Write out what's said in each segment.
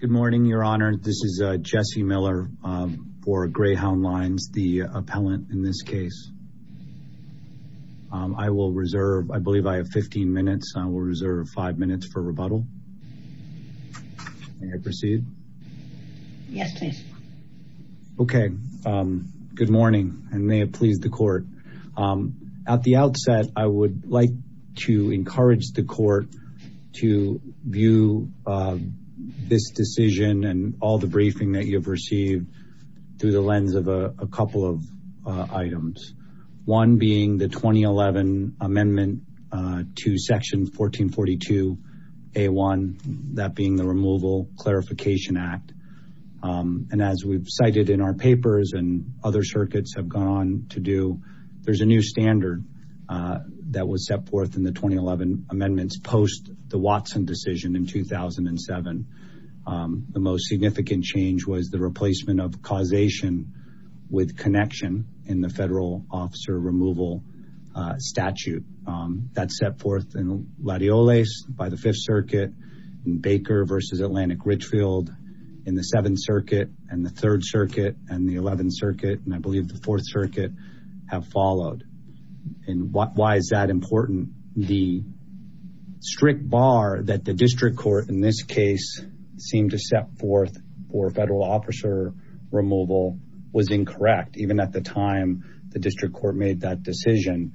Good morning, Your Honor. This is Jesse Miller for Greyhound Lines, the appellant in this case. I will reserve, I believe I have 15 minutes. I will reserve five minutes for rebuttal. May I proceed? Yes, please. Okay. Good morning. I may have pleased the court. At the outset, I would like to encourage the court to view this decision and all the briefing that you've received through the lens of a couple of items. One being the 2011 amendment to section 1442A1, that being the Removal Clarification Act. And as we've cited in our papers and other circuits have gone on to do, there's a new standard that was set forth in the 2011 amendments post the Watson decision in 2007. The most significant change was the replacement of causation with connection in the Federal Officer Removal Statute. That's set forth in Latioles by the Fifth Circuit, in Baker v. Atlantic Richfield in the Seventh Circuit, and the Third Circuit, and the Eleventh Circuit, and I believe the Fourth Circuit have followed. And why is that important? The strict bar that the district court in this case seemed to set forth for Federal Officer Removal was incorrect, even at the time the district court made that decision.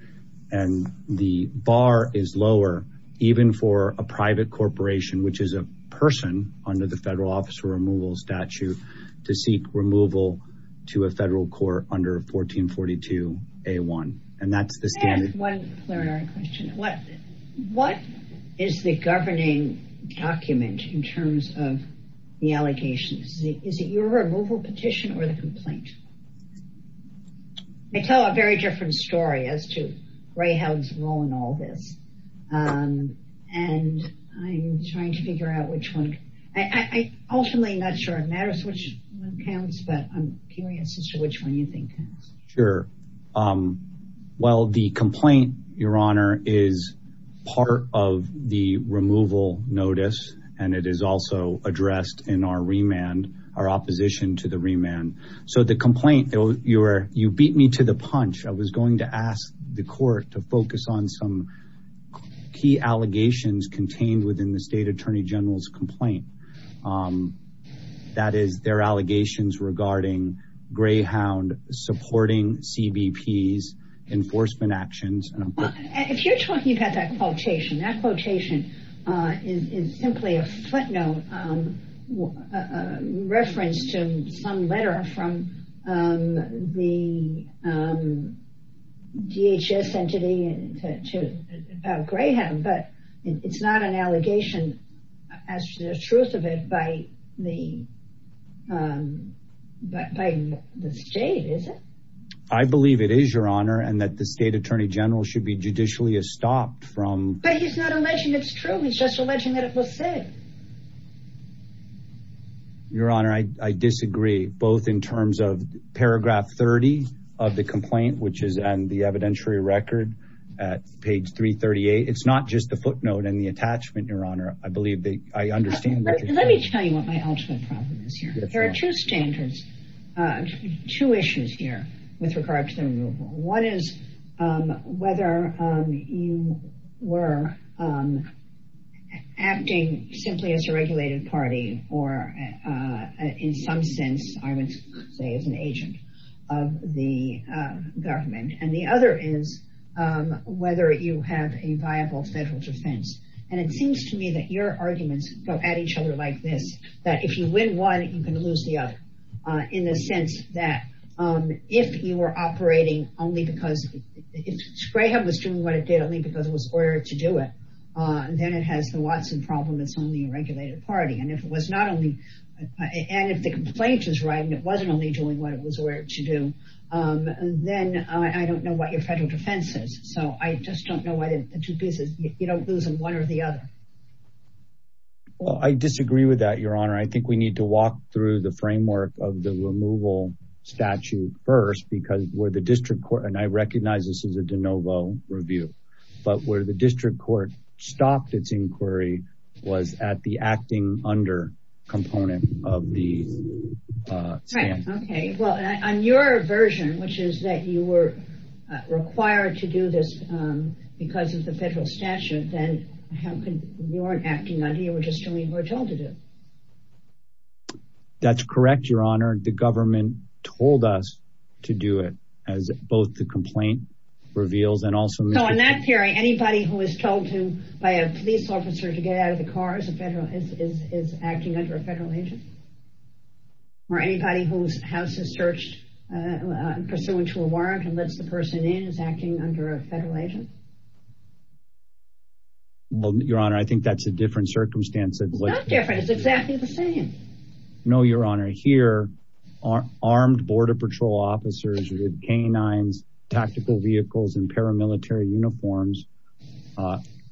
And the bar is lower, even for a private corporation, which is a person under the to a federal court under 1442A1. And that's the standard. I have one clarifying question. What is the governing document in terms of the allegations? Is it your removal petition or the complaint? I tell a very different story as to Greyhound's role in all this. And I'm trying to figure out which one. I'm ultimately not sure it matters which one counts, but I'm curious as to which one you think counts. Sure. Well, the complaint, Your Honor, is part of the removal notice, and it is also addressed in our remand, our opposition to the remand. So the complaint, you beat me to the punch. I was going to ask the court to focus on some key allegations contained within the State Attorney General's report. That is their allegations regarding Greyhound supporting CBP's enforcement actions. If you're talking about that quotation, that quotation is simply a footnote, reference to some letter from the DHS entity to Greyhound. But it's not an allegation. As the truth of it, by the state, is it? I believe it is, Your Honor, and that the State Attorney General should be judicially estopped from... But he's not alleging it's true. He's just alleging that it was said. Your Honor, I disagree, both in terms of paragraph 30 of the complaint, which is on the evidentiary record at page 338. It's not just the footnote and the attachment, Your Honor. I believe that I understand... Let me tell you what my ultimate problem is here. There are two standards, two issues here with regard to the removal. One is whether you were acting simply as a regulated party, or in some sense, I would say, as an agent of the government. And the other is whether you have a viable federal defense. And it seems to me that your arguments go at each other like this, that if you win one, you can lose the other, in the sense that if you were operating only because... If Greyhound was doing what it did only because it was ordered to do it, then it has the Watson problem. It's only a regulated party. And if it was not only... And if the complaint is right, and it wasn't only doing what it was ordered to do, then I don't know what your federal defense is. So I just don't know whether the two pieces... You don't lose in one or the other. Well, I disagree with that, Your Honor. I think we need to walk through the framework of the removal statute first, because where the district court... And I recognize this is a de novo review. But where the district court stopped its inquiry was at the acting under component of the stand. Right. Okay. Well, on your version, which is that you were required to do this because of the federal statute, then how can... You weren't acting under. You were just doing what you were told to do. That's correct, Your Honor. The government told us to do it, as both the complaint reveals and also... So in that period, anybody who is told to by a police officer to get out of the car is acting under a federal agent? Or anybody whose house is searched pursuant to a warrant and lets the person in is acting under a federal agent? Well, Your Honor, I think that's a different circumstance. It's not different. It's exactly the same. No, Your Honor. Here, armed border patrol officers with canines, tactical vehicles, and paramilitary uniforms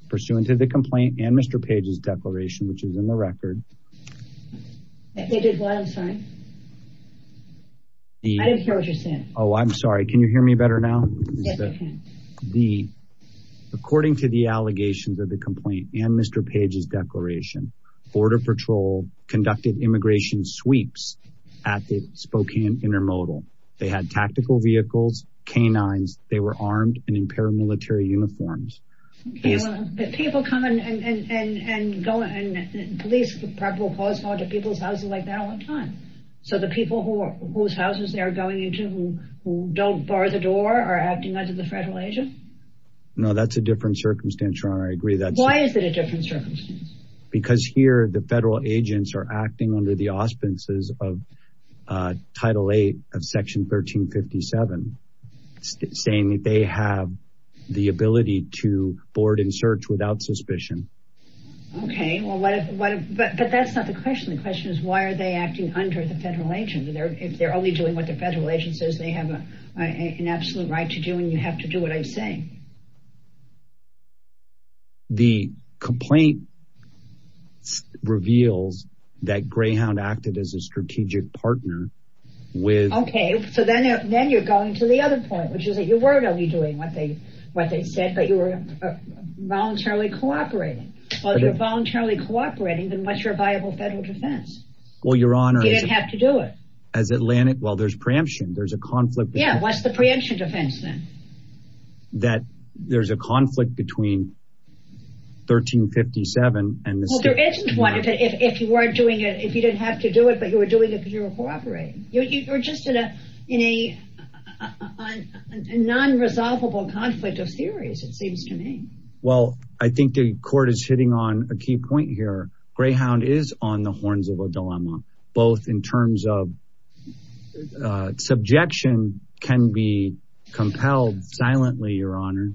pursuant to the complaint and Mr. Page's declaration, which is in the record. I did what? I'm sorry. I didn't hear what you said. Oh, I'm sorry. Can you hear me better now? Yes, I can. According to the allegations of the complaint and Mr. Page's declaration, border patrol conducted immigration sweeps at the Spokane Intermodal. They had tactical vehicles, canines. They were armed and in paramilitary uniforms. But people come and go, and police probably will cause harm to people's houses like that all the time. So the people whose houses they're going into, who don't bar the door, are acting under the federal agent? No, that's a different circumstance, Your Honor. I agree that's... Why is it a different circumstance? Because here, the federal agents are 1357, saying that they have the ability to board and search without suspicion. Okay. But that's not the question. The question is, why are they acting under the federal agent? If they're only doing what the federal agent says they have an absolute right to do, and you have to do what I'm saying. The complaint reveals that Greyhound acted as a strategic partner with... Okay, so then you're going to the other point, which is that you were only doing what they said, but you were voluntarily cooperating. Well, if you're voluntarily cooperating, then what's your viable federal defense? Well, Your Honor... You didn't have to do it. As Atlantic... Well, there's preemption. There's a conflict... Yeah, what's the preemption defense then? That there's a conflict between 1357 and... Well, there isn't one if you weren't doing it, if you didn't have to do it, but you were doing it because you were cooperating. You're just in a non-resolvable conflict of theories, it seems to me. Well, I think the court is hitting on a key point here. Greyhound is on the horns of a dilemma, both in terms of... Subjection can be compelled silently, Your Honor.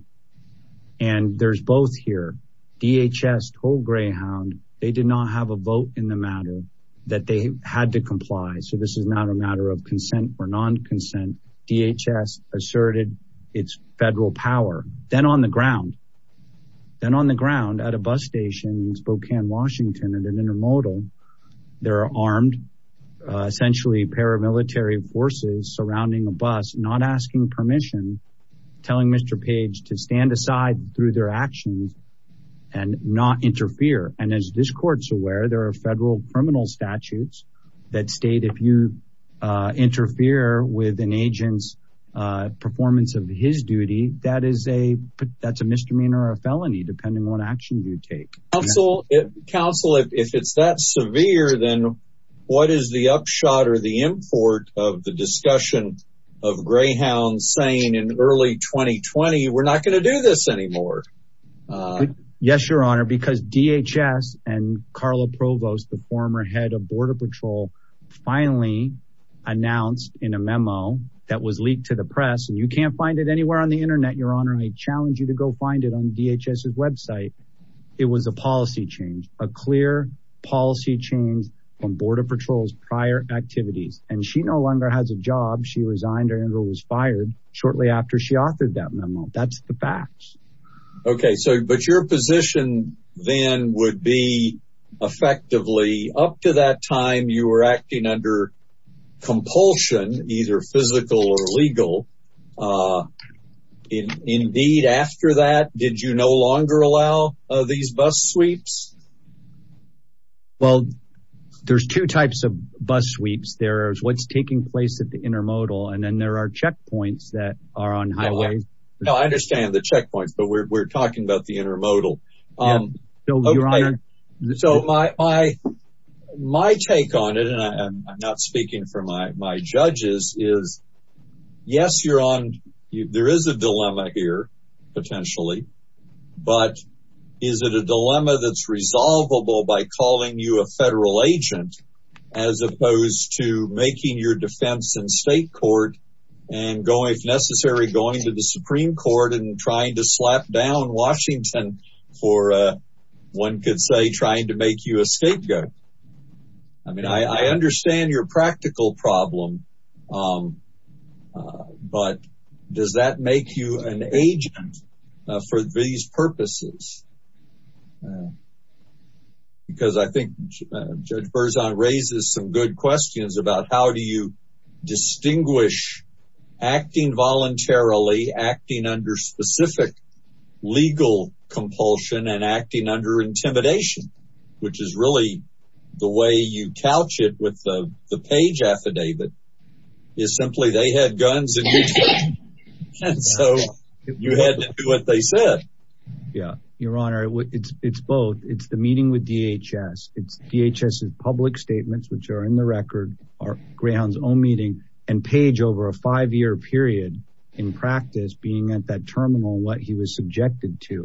And there's both here. DHS told Greyhound they did not have a vote in the matter, that they had to comply. So this is not a matter of consent or non-consent. DHS asserted its federal power. Then on the ground, at a bus station in Spokane, Washington, at an intermodal, there are armed, essentially paramilitary forces surrounding a bus, not asking permission, telling Mr. Page to stand aside through their actions and not interfere. And as this court's federal criminal statutes that state if you interfere with an agent's performance of his duty, that's a misdemeanor or a felony, depending on what action you take. Counsel, if it's that severe, then what is the upshot or the import of the discussion of Greyhound saying in early 2020, we're not going to do this anymore? Yes, Your Honor, because DHS and Carla Provost, the former head of Border Patrol, finally announced in a memo that was leaked to the press, and you can't find it anywhere on the internet, Your Honor. I challenge you to go find it on DHS's website. It was a policy change, a clear policy change from Border Patrol's prior activities. And she no longer has a job. She resigned and was fired shortly after she authored that memo. That's the facts. Okay, so but your position then would be effectively up to that time you were acting under compulsion, either physical or legal. Indeed, after that, did you no longer allow these bus sweeps? Well, there's two types of bus sweeps. There's what's taking place at the checkpoints, but we're talking about the intermodal. So my take on it, and I'm not speaking for my judges is, yes, you're on, there is a dilemma here, potentially. But is it a dilemma that's resolvable by calling you a federal agent, as opposed to making your defense in state court, and going, if necessary, going to the Supreme Court and trying to slap down Washington for, one could say, trying to make you a scapegoat? I mean, I understand your practical problem. But does that make you an agent for these purposes? Because I think Judge Berzon raises some good questions about how do you distinguish acting voluntarily, acting under specific legal compulsion and acting under intimidation, which is really the way you couch it with the page affidavit, is simply they had guns in each Yeah, Your Honor, it's both. It's the meeting with DHS. It's DHS's public statements, which are in the record, are Greyhound's own meeting and page over a five year period in practice being at that terminal what he was subjected to.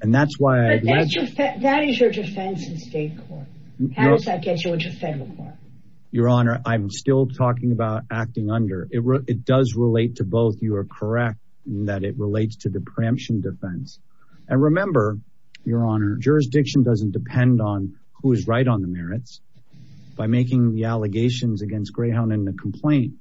And that's why That is your defense in state court. How does that get you into federal court? Your Honor, I'm still talking about acting under. It does relate to both. You are correct that it relates to the preemption defense. And remember, Your Honor, jurisdiction doesn't depend on who is right on the merits. By making the allegations against Greyhound in the complaint,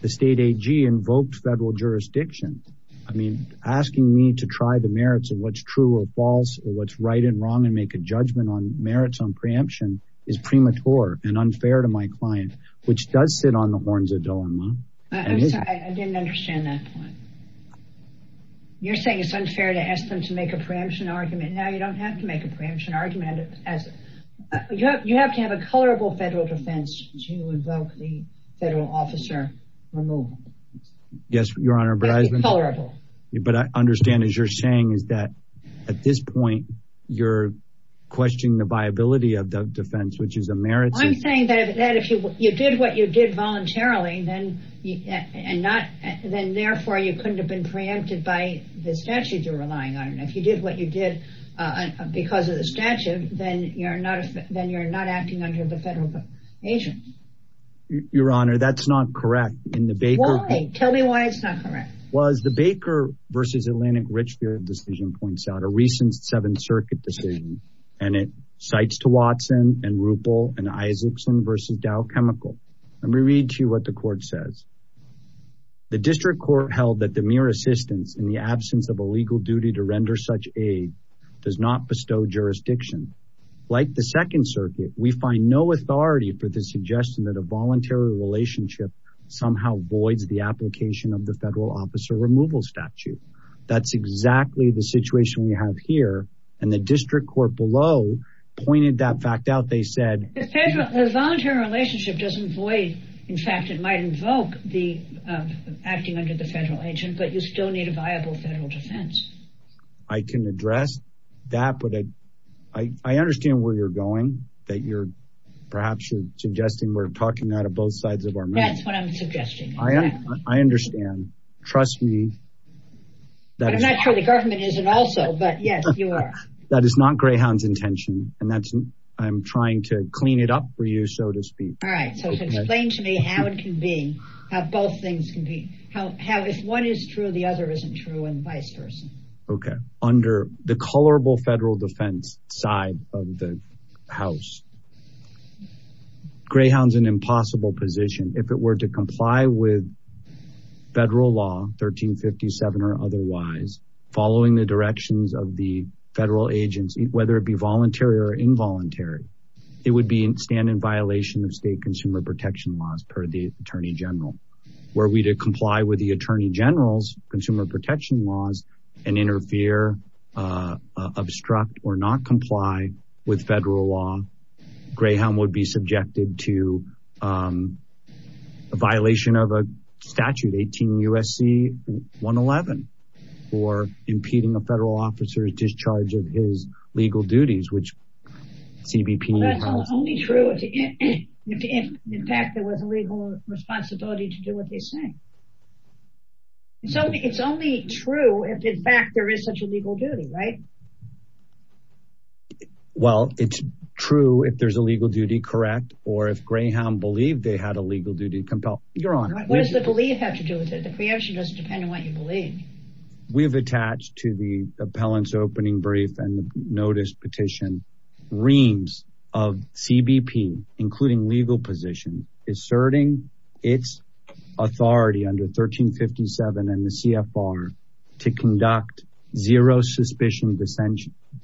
the state AG invoked federal jurisdiction. I mean, asking me to try the merits of what's true or false or what's right and wrong and make a judgment on merits on preemption is premature and unfair to my client, which does sit on the horns of dilemma. I'm sorry, I didn't understand that point. You're saying it's unfair to ask them to make a preemption argument. Now you don't have to make a preemption argument. You have to have a colorable federal defense to invoke the federal officer removal. Yes, Your Honor, but I understand as you're saying is that at this point, you're questioning the viability of the defense, which is a merit. I'm saying that if you did what you did voluntarily, then therefore you couldn't have been preempted by the statute you're relying on. And if you did what you did because of the statute, then you're not acting under the federal agent. Your Honor, that's not correct. Tell me why it's not correct. Well, as the Baker versus Atlantic Richfield decision points out, a recent Seventh Circuit decision, and it cites to Watson and Ruppel and Isaacson versus Dow Chemical. Let me read to you what the court says. The district court held that the mere assistance in the absence of a legal duty to render such aid does not bestow jurisdiction. Like the Second Circuit, we find no authority for the suggestion that a voluntary relationship somehow voids the application of the federal officer removal statute. That's exactly the situation we have here. And the district court below pointed that out. The voluntary relationship doesn't void. In fact, it might invoke acting under the federal agent, but you still need a viable federal defense. I can address that, but I understand where you're going. Perhaps you're suggesting we're talking out of both sides of our mouth. That's what I'm suggesting. I understand. Trust me. I'm not sure the government isn't also, but yes, you are. That is not Greyhound's intention, and I'm trying to clean it up for you, so to speak. All right. So explain to me how it can be, how both things can be. If one is true, the other isn't true, and vice versa. Okay. Under the colorable federal defense side of the House, Greyhound's an impossible position. If it were to comply with federal law, 1357 or otherwise, following the directions of the federal agents, whether it be voluntary or involuntary, it would stand in violation of state consumer protection laws per the Attorney General. Were we to comply with the Attorney General's consumer protection laws and interfere, obstruct, or not comply with federal law, Greyhound would be subjected to a violation of a statute, 18 U.S.C. 111, for impeding a federal officer's discharge of his legal duties, which CBP... Well, that's only true if, in fact, there was a legal responsibility to do what they say. It's only true if, in fact, there is such a legal duty, right? Well, it's true if there's a legal duty, correct, or if Greyhound believed they had a legal duty to compel. You're on. What does the belief have to do with it? The preemption doesn't depend on what you believe. We've attached to the appellant's opening brief and the notice petition reams of CBP, including legal position, asserting its authority under 1357 and the CFR to conduct zero suspicion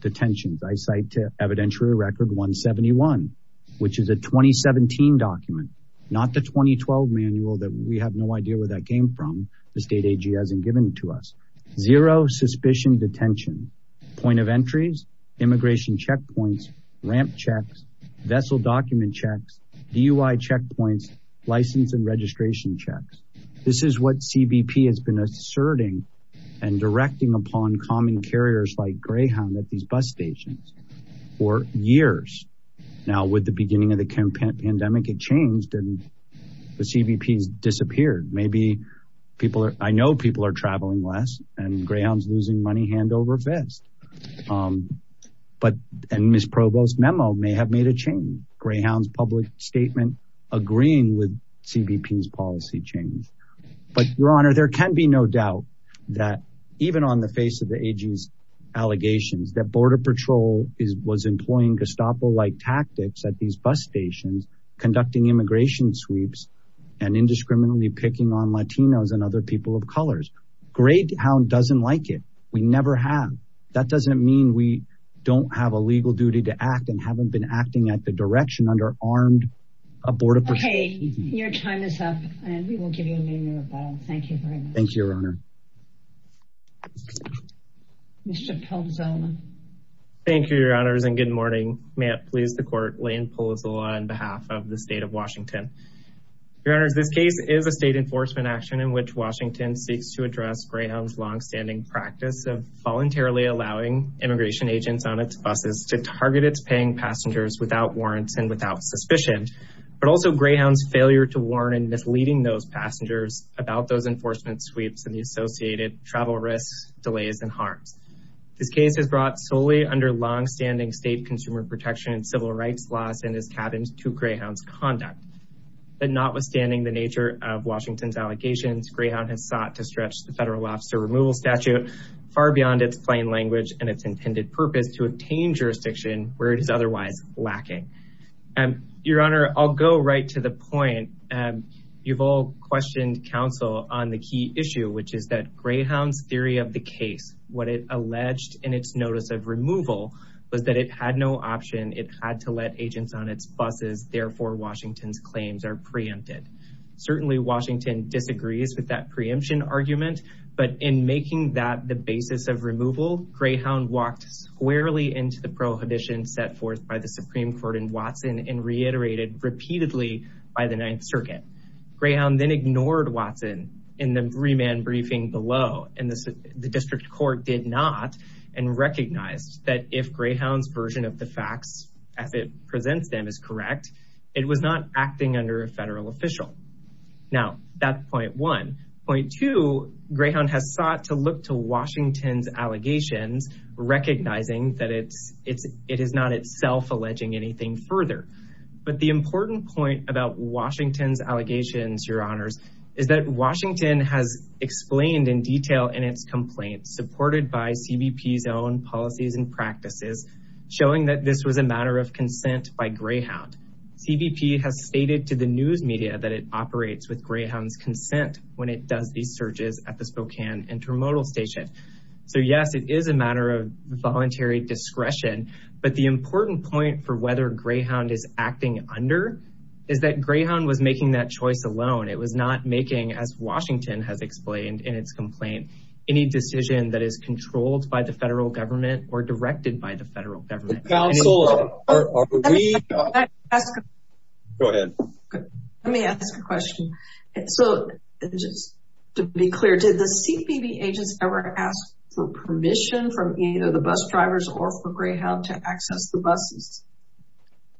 detentions. I cite evidentiary record 171, which is a 2017 document, not the 2012 manual that we have no idea where that came from. The state AG hasn't given it to us. Zero suspicion detention, point of entries, immigration checkpoints, ramp checks, vessel document checks, DUI checkpoints, license and registration checks. This is what CBP has been asserting and directing upon common carriers like Greyhound at these bus stations for years. Now, with the beginning of the pandemic, it changed and the CBP's disappeared. Maybe I know people are traveling less and Greyhound's losing money hand over fist. And Ms. Provost's memo may have made a change. Greyhound's public statement agreeing with CBP's change. But Your Honor, there can be no doubt that even on the face of the AG's allegations that Border Patrol was employing Gestapo-like tactics at these bus stations, conducting immigration sweeps and indiscriminately picking on Latinos and other people of colors. Greyhound doesn't like it. We never have. That doesn't mean we don't have a legal duty to act and haven't been and we will give you a name you're about. Thank you very much. Thank you, Your Honor. Mr. Palazzolo. Thank you, Your Honors. And good morning. May it please the court, Lane Palazzolo on behalf of the state of Washington. Your Honors, this case is a state enforcement action in which Washington seeks to address Greyhound's longstanding practice of voluntarily allowing immigration agents on its buses to target its paying passengers without warrants and without suspicion, but also Greyhound's failure to warn and misleading those passengers about those enforcement sweeps and the associated travel risks, delays, and harms. This case has brought solely under longstanding state consumer protection and civil rights laws in his cabins to Greyhound's conduct. But notwithstanding the nature of Washington's allegations, Greyhound has sought to stretch the federal officer removal statute far beyond its plain language and its intended purpose to obtain jurisdiction where it is otherwise lacking. Your Honor, I'll go right to the point. You've all questioned counsel on the key issue, which is that Greyhound's theory of the case, what it alleged in its notice of removal, was that it had no option. It had to let agents on its buses. Therefore, Washington's claims are preempted. Certainly, Washington disagrees with that preemption argument, but in making that the basis of removal, Greyhound walked squarely into the prohibition set forth by the Supreme Court and reiterated repeatedly by the Ninth Circuit. Greyhound then ignored Watson in the remand briefing below. The district court did not and recognized that if Greyhound's version of the facts as it presents them is correct, it was not acting under a federal official. Now, that's point one. Point two, Greyhound has sought to look to Washington's allegations, recognizing that it is not itself alleging anything further. But the important point about Washington's allegations, Your Honors, is that Washington has explained in detail in its complaints, supported by CBP's own policies and practices, showing that this was a matter of consent by Greyhound. CBP has stated to the news media that it operates with Greyhound's consent when it does these searches at the Spokane intermodal station. So, yes, it is a matter of voluntary discretion, but the important point for whether Greyhound is acting under is that Greyhound was making that choice alone. It was not making, as Washington has explained in its complaint, any decision that is controlled by the federal government or directed by the federal government. Let me ask a question. So, just to be clear, did CBP agents ever ask for permission from either the bus drivers or for Greyhound to access the buses?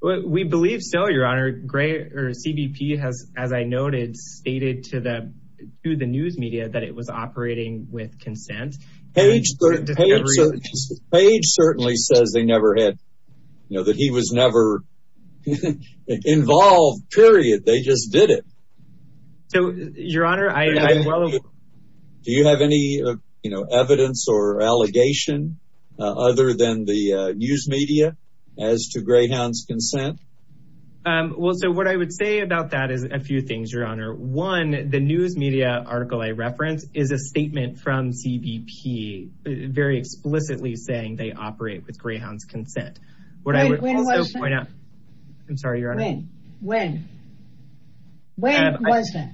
We believe so, Your Honor. CBP has, as I noted, stated to the news media that it was operating with consent. Page certainly says they never had, you know, that he was never involved, period. They just did it. So, Your Honor, I'm well aware. Do you have any, you know, evidence or allegation other than the news media as to Greyhound's consent? Well, so what I would say about that is a few things, Your Honor. One, the news media article I reference is a statement from CBP very explicitly saying they operate with Greyhound's consent. What I would also point out, I'm sorry, Your Honor. When? When was that?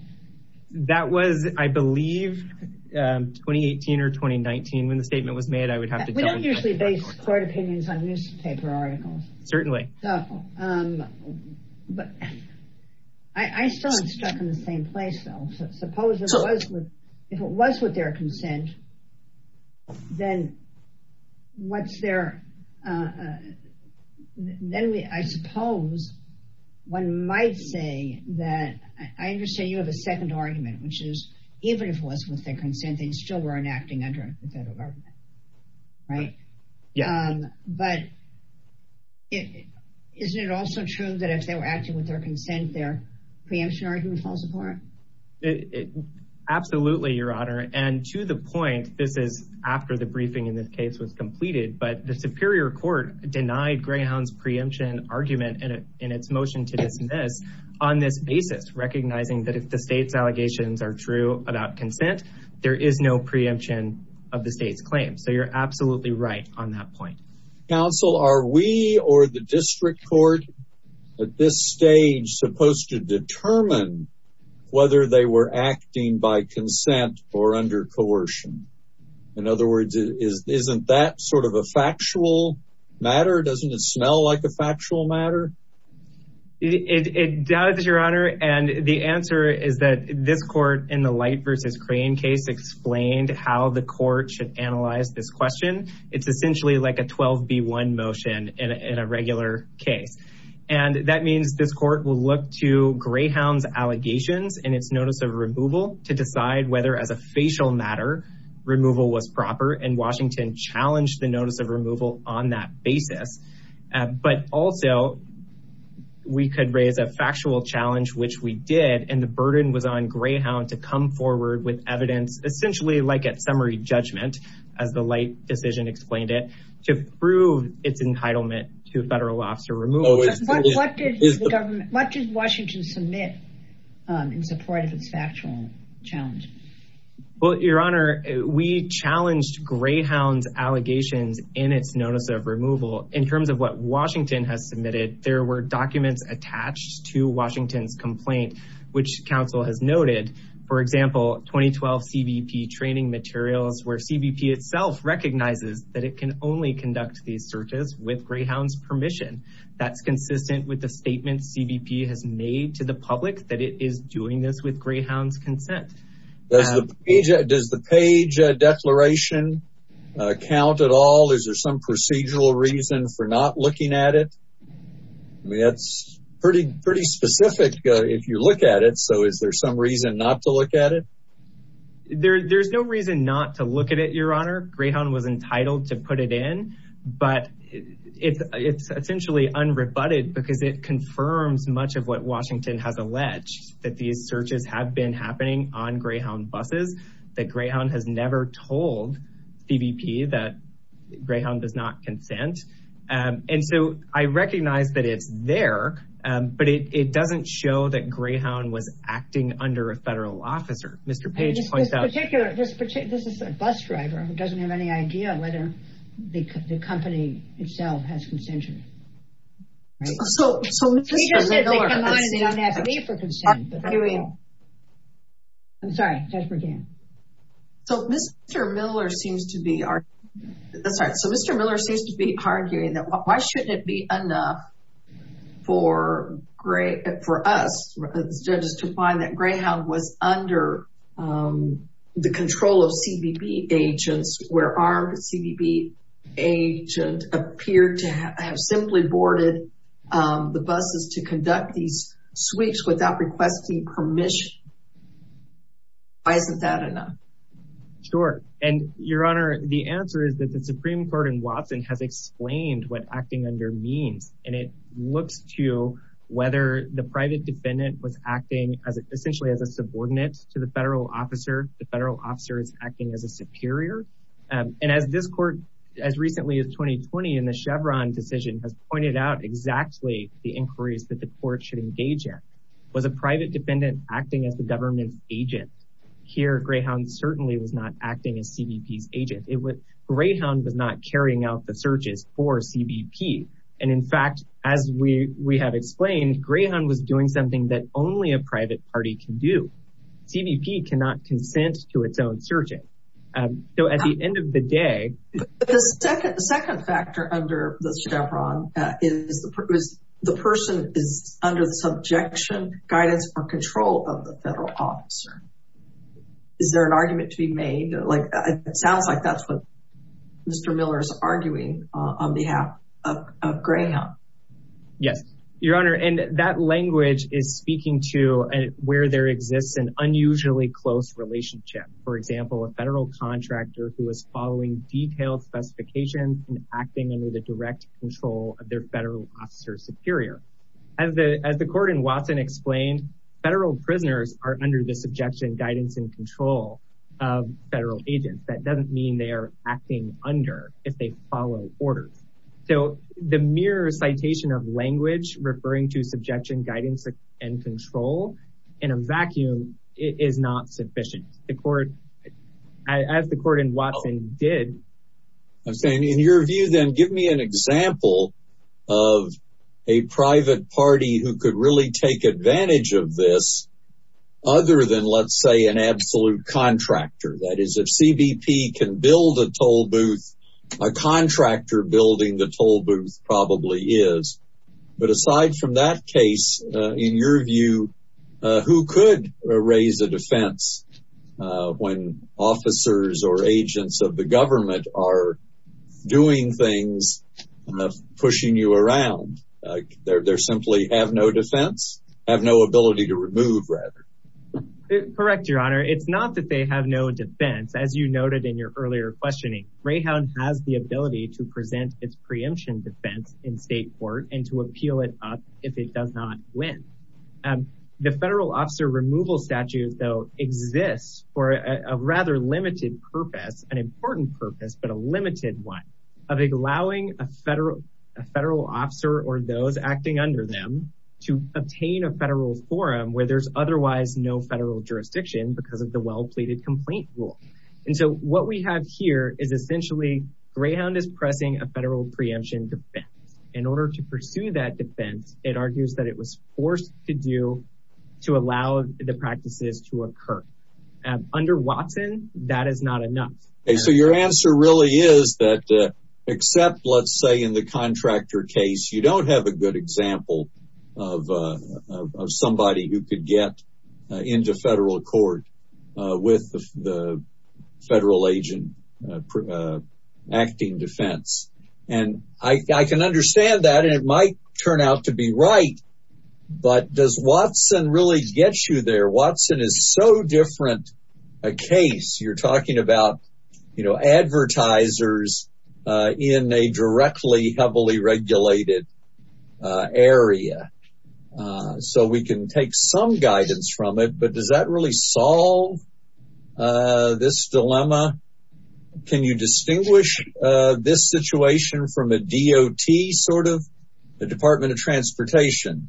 That was, I believe, 2018 or 2019. When the statement was made, I would have to tell you. We don't usually base court opinions on newspaper articles. Certainly. But I still am stuck in the same place, though. Suppose if it was with their consent, then what's their, then I suppose one might say that, I understand you have a second argument, which is even if it was with their consent, they still weren't acting under the federal government. Right? Yeah. But isn't it also true that if they were acting with their consent, their preemption argument falls apart? Absolutely, Your Honor. And to the point, this is after the briefing in this case was completed, but the Superior Court denied Greyhound's preemption argument in its motion to dismiss on this basis, recognizing that if the state's allegations are true about consent, there is no preemption of the state's claim. So you're absolutely right on that point. Counsel, are we or the district court at this stage supposed to determine whether they were acting by consent or under coercion? In other words, isn't that sort of a factual matter? Doesn't it smell like a factual matter? It does, Your Honor. And the answer is that this court in the Light v. Crane case explained how the court should analyze this question. It's essentially like a 12-B-1 motion in a regular case. And that means this court will look to Greyhound's allegations and its notice of removal to decide whether as a facial matter, removal was proper, and Washington challenged the notice of removal on that basis. But also, we could raise a factual challenge, which we did, and the burden was on Greyhound to come forward with evidence, essentially like a summary judgment, as the government. What did Washington submit in support of its factual challenge? Well, Your Honor, we challenged Greyhound's allegations in its notice of removal. In terms of what Washington has submitted, there were documents attached to Washington's complaint, which counsel has noted. For example, 2012 CBP training materials, where CBP itself recognizes that it can only conduct these searches with Greyhound's permission. That's consistent with the statement CBP has made to the public that it is doing this with Greyhound's consent. Does the page declaration count at all? Is there some procedural reason for not looking at it? I mean, that's pretty specific if you look at it. So is there some reason not to look at it? There's no reason not to look at it, Your Honor. Greyhound was entitled to put it in. But it's essentially unrebutted, because it confirms much of what Washington has alleged, that these searches have been happening on Greyhound buses, that Greyhound has never told CBP that Greyhound does not consent. And so I recognize that it's there, but it doesn't show that Greyhound was acting under a federal officer. Mr. Page points out- This is a bus driver who doesn't have any idea whether the company itself has consented. So Mr. Miller seems to be arguing that why shouldn't it be enough for us judges to find that Greyhound was under the control of CBP agents, where our CBP agent appeared to have simply boarded the buses to conduct these sweeps without requesting permission? Why isn't that enough? Sure. And Your Honor, the answer is that the Supreme Court in Watson has explained what defendant was acting as essentially as a subordinate to the federal officer, the federal officer is acting as a superior. And as this court, as recently as 2020, in the Chevron decision has pointed out exactly the inquiries that the court should engage in. Was a private defendant acting as the government's agent? Here, Greyhound certainly was not acting as CBP's agent. Greyhound was not carrying out the searches for CBP. And in fact, as we have explained, Greyhound was doing something that only a private party can do. CBP cannot consent to its own searching. So at the end of the day- The second factor under the Chevron is the person is under the subjection, guidance or control of the federal officer. Is there an argument to be made? Like, it sounds like that's what Mr. Miller is arguing on behalf of Greyhound. Yes, Your Honor. And that language is speaking to where there exists an unusually close relationship. For example, a federal contractor who is following detailed specifications and acting under the direct control of their federal officer superior. As the court in Watson explained, federal prisoners are under the subjection, guidance and control of federal agents. That of language referring to subjection, guidance and control in a vacuum is not sufficient. As the court in Watson did. I'm saying in your view, then give me an example of a private party who could really take advantage of this other than, let's say, an absolute contractor. That is, if CBP can build a toll booth, a contractor building the toll booth probably is. But aside from that case, in your view, who could raise a defense when officers or agents of the government are doing things, pushing you around? They're simply have no defense, have no ability to remove rather. Correct, Your Honor. It's not that they have no defense. As you noted in your earlier questioning, Rahan has the ability to present its preemption defense in state court and to appeal it up if it does not win. The federal officer removal statute, though, exists for a rather limited purpose, an important purpose, but a limited one of allowing a federal a federal officer or those acting under them to obtain a federal forum where there's otherwise no federal jurisdiction because the well pleaded complaint rule. And so what we have here is essentially greyhound is pressing a federal preemption defense. In order to pursue that defense, it argues that it was forced to do to allow the practices to occur under Watson. That is not enough. So your answer really is that except, let's say, in the contractor case, you don't have a good of somebody who could get into federal court with the federal agent acting defense. And I can understand that it might turn out to be right. But does Watson really get you there? Watson is so different a case. You're talking about, you know, advertisers in a directly heavily regulated area. So we can take some guidance from it. But does that really solve this dilemma? Can you distinguish this situation from a D.O.T. sort of the Department of Transportation?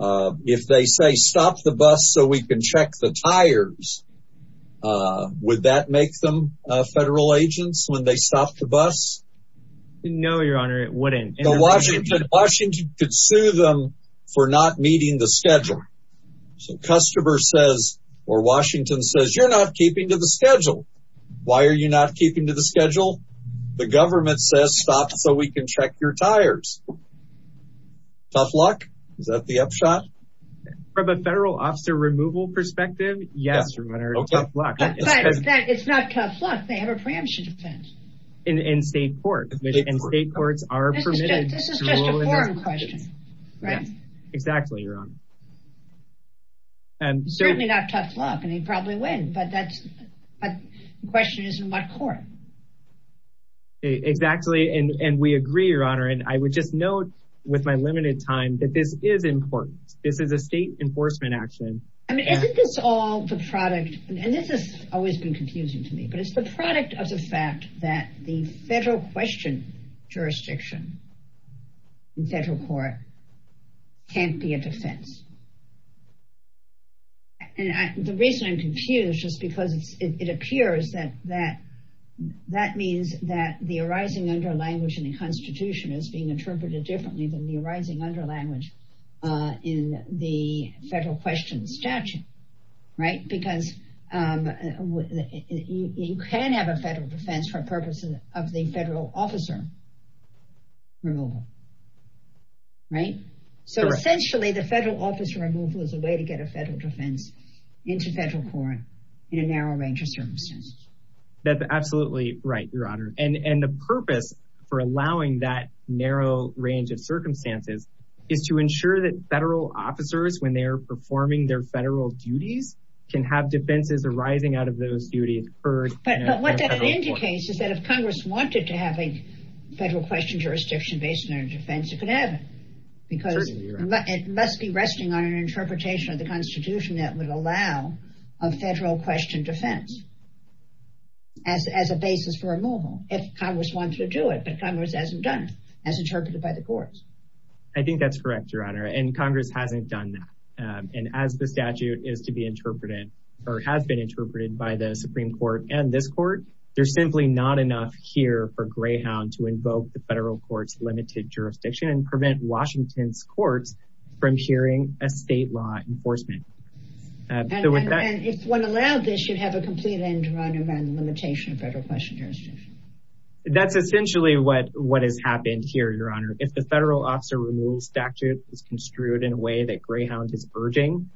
If they say stop the bus so we can check the tires, would that make them federal agents when they stopped the bus? No, your honor, it wouldn't. Washington could sue them for not meeting the schedule. So customer says or Washington says you're not keeping to the schedule. Why are you not keeping to the schedule? The government says stop so we can check your tires. Tough luck. Is that the upshot from a federal officer removal perspective? Yes, your honor. It's not tough luck. They have a preemption defense in state court and state courts are permitted. This is just a foreign question, right? Exactly, your honor. And certainly not tough luck and he'd probably win. But that's a question is in what court? Exactly. And we agree, your honor. And I would just note with my limited time that this is important. This is a state enforcement action. I mean, isn't this all the product? And this has always been confusing to me, but it's the product of the fact that the federal question jurisdiction in federal court can't be a defense. And the reason I'm confused is because it appears that that means that the arising under language in the Constitution is being interpreted differently than the arising under language in the federal question statute, right? Because you can have a federal defense for purposes of the federal officer removal. Right? So essentially, the federal officer removal is a way to get a federal defense into federal court in a narrow range of circumstances. That's absolutely right, your honor. And the purpose for allowing that narrow range of is to ensure that federal officers when they're performing their federal duties can have defenses arising out of those duties. But what that indicates is that if Congress wanted to have a federal question jurisdiction based on their defense, it could happen. Because it must be resting on an interpretation of the Constitution that would allow a federal question defense as a basis for removal if Congress wants to do it. But Congress hasn't done as interpreted by the courts. I think that's correct, your honor, and Congress hasn't done that. And as the statute is to be interpreted, or has been interpreted by the Supreme Court, and this court, there's simply not enough here for greyhound to invoke the federal court's limited jurisdiction and prevent Washington's courts from hearing a state law enforcement. If one allowed this, you'd have a complete end run around the limitation of federal question jurisdiction. That's essentially what what has happened here, your honor, if the federal officer removal statute is construed in a way that greyhound is urging,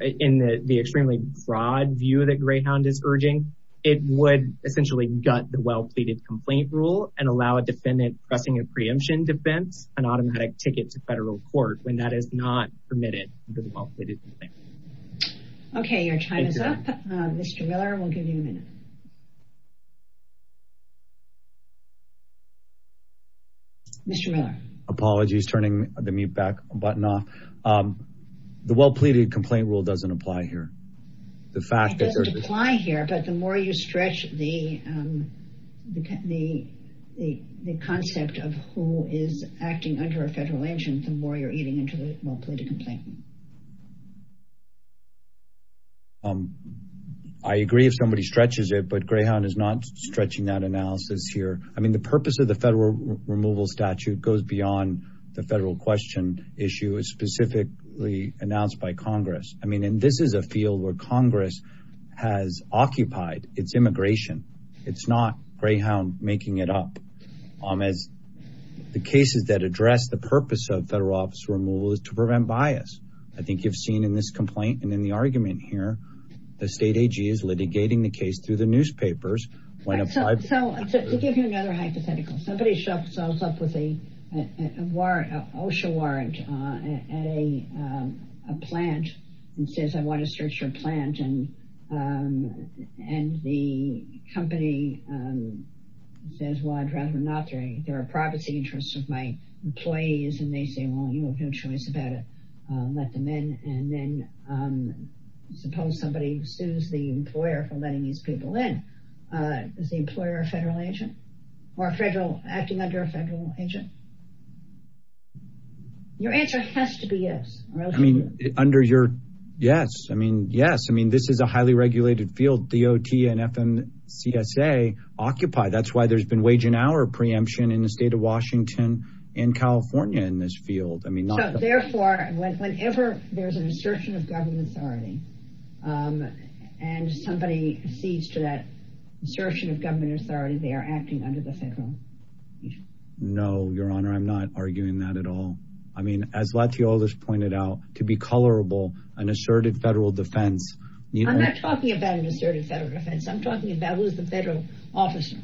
in the extremely broad view that greyhound is urging, it would essentially gut the well pleaded complaint rule and allow a defendant pressing a preemption defense and automatic ticket to federal court when that is not permitted. Okay, your time is up. Mr. Miller, we'll give you a minute. Mr. Miller. Apologies, turning the mute back button off. The well pleaded complaint rule doesn't apply here. The fact that apply here, but the more you stretch the, the, the, the concept of who is acting under a federal engine, the more you're eating into the well pleaded complaint. Um, I agree if somebody stretches it, but greyhound is not stretching that analysis here. I mean, the purpose of the federal removal statute goes beyond the federal question issue is specifically announced by Congress. I mean, and this is a field where Congress has occupied its immigration. It's not greyhound making it up as the cases that address the purpose of federal officer removal is to prevent bias. I think you've seen in this complaint and in the argument here, the state AG is litigating the case through the newspapers. So to give you another hypothetical, somebody shows up with a warrant, OSHA warrant, uh, at a, um, a plant and says, I want to search your plant. And, um, and the company, um, says, well, I'd rather not. There are privacy interests of my employees and they say, well, you have no choice about it. Uh, let them in. And then, um, suppose somebody sues the employer for letting these people in, uh, is the employer, a federal agent or a federal acting under a federal agent? Your answer has to be yes. I mean, under your. Yes. I mean, yes. I mean, this is a highly regulated field, the OT and FM CSA occupy. That's why there's been wage and hour preemption in the state of Washington and California in this field. I mean, therefore, whenever there's an assertion of government authority, um, and somebody sees to that assertion of government authority, they are acting under the federal. No, your honor. I'm not arguing that at all. I mean, as let's see, all this pointed out to be colorable, an asserted federal defense. I'm not talking about an asserted federal defense. I'm talking about who's the federal officer.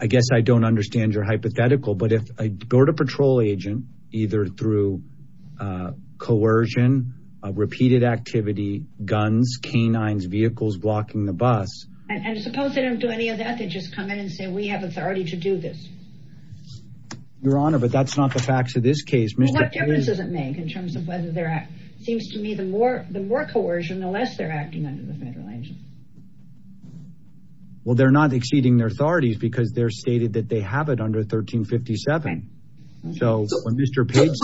I guess I don't understand your hypothetical, but if I go to patrol agent, either through, uh, coercion, repeated activity, guns, canines, vehicles, blocking the bus. And suppose they don't do any of that. They just come in and say, we have authority to do this. Your honor, but that's not the facts of this case. What difference does it make in terms of whether they're at, seems to me the more, the more coercion, the less they're acting under the federal agent. Well, they're not exceeding their authorities because they're stated that they have it under 1357. So when Mr. Page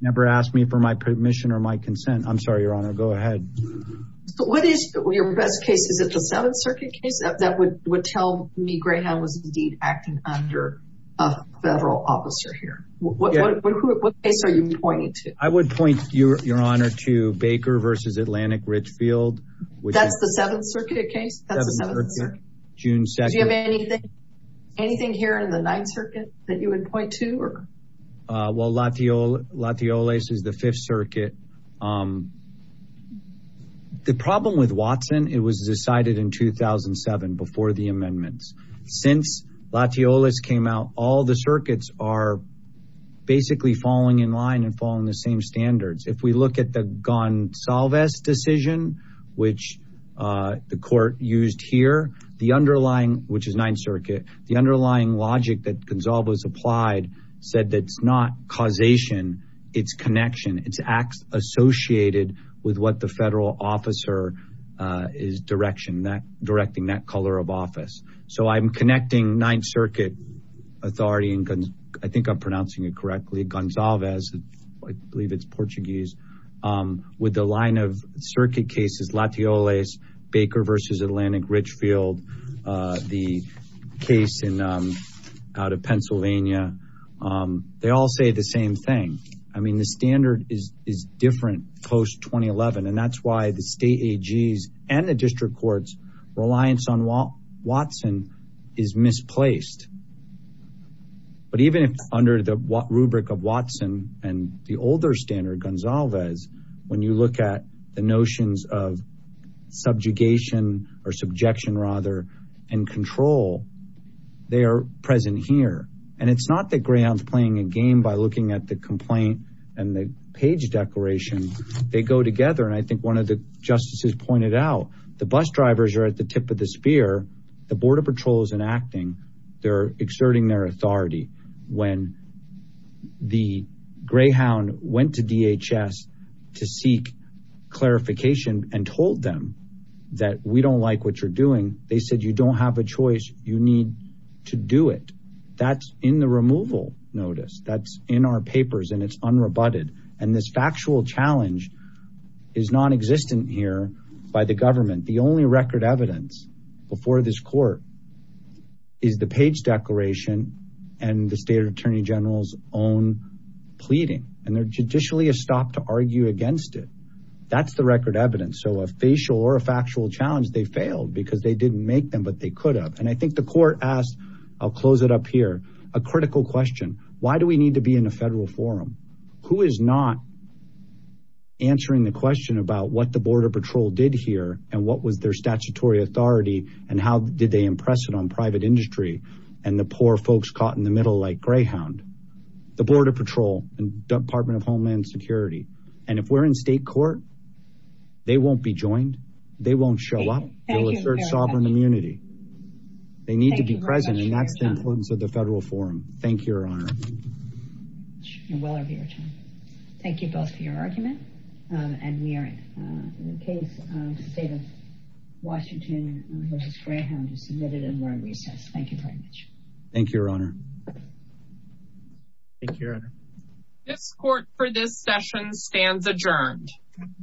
never asked me for my permission or my consent, I'm sorry, your honor, go ahead. So what is your best case? Is it the seventh circuit case that would tell me was indeed acting under a federal officer here? What case are you pointing to? I would point your honor to Baker versus Atlantic Richfield. That's the seventh circuit case? That's the seventh circuit. Do you have anything here in the ninth circuit that you would point to? Well, Latioles is the fifth circuit. Um, the problem with Watson, it was decided in 2007 before the amendments. Since Latioles came out, all the circuits are basically falling in line and following the same standards. If we look at the Goncalves decision, which, uh, the court used here, the underlying, which is ninth circuit, the underlying logic that Goncalves applied said that it's not causation, it's connection. It's acts associated with what the federal officer is direction that directing that color of office. So I'm connecting ninth circuit authority. And I think I'm pronouncing it correctly. Goncalves, I believe it's Portuguese. Um, with the line of circuit cases, Latioles, Baker versus Atlantic Richfield, uh, the case in, um, out of Pennsylvania. Um, they all say the same thing. I mean, the standard is, is different post 2011. And that's why the state AGs and the district courts reliance on Watson is misplaced. But even if under the rubric of Watson and the older standard Goncalves, when you look at the notions of subjugation or subjection rather and control, they are present here. And it's not that Greyhounds playing a game by looking at the complaint and the page declaration, they go together. And I think one of the justices pointed out the bus drivers are at the tip of the spear. The border patrol is enacting. They're exerting their authority. When the Greyhound went to DHS to seek clarification and told them that we don't like what you're doing. They said, you don't have a choice. You need to do it. That's in the removal notice that's in our papers and it's unrebutted. And this factual challenge is non-existent here by the government. The only record evidence before this court is the page declaration and the state attorney general's own pleading. And they're judicially a stop to argue against it. That's the record I think the court asked, I'll close it up here. A critical question. Why do we need to be in a federal forum? Who is not answering the question about what the border patrol did here and what was their statutory authority and how did they impress it on private industry? And the poor folks caught in the middle like Greyhound, the border patrol and department of Homeland Security. And if we're in state court, they won't be joined. They won't show up. They'll assert sovereign immunity. They need to be present. And that's the importance of the federal forum. Thank you, your honor. Thank you both for your argument. And we are in the case of the state of Washington versus Greyhound who submitted it during recess. Thank you very much. Thank you, your honor. Thank you, your honor. This court for this session stands adjourned.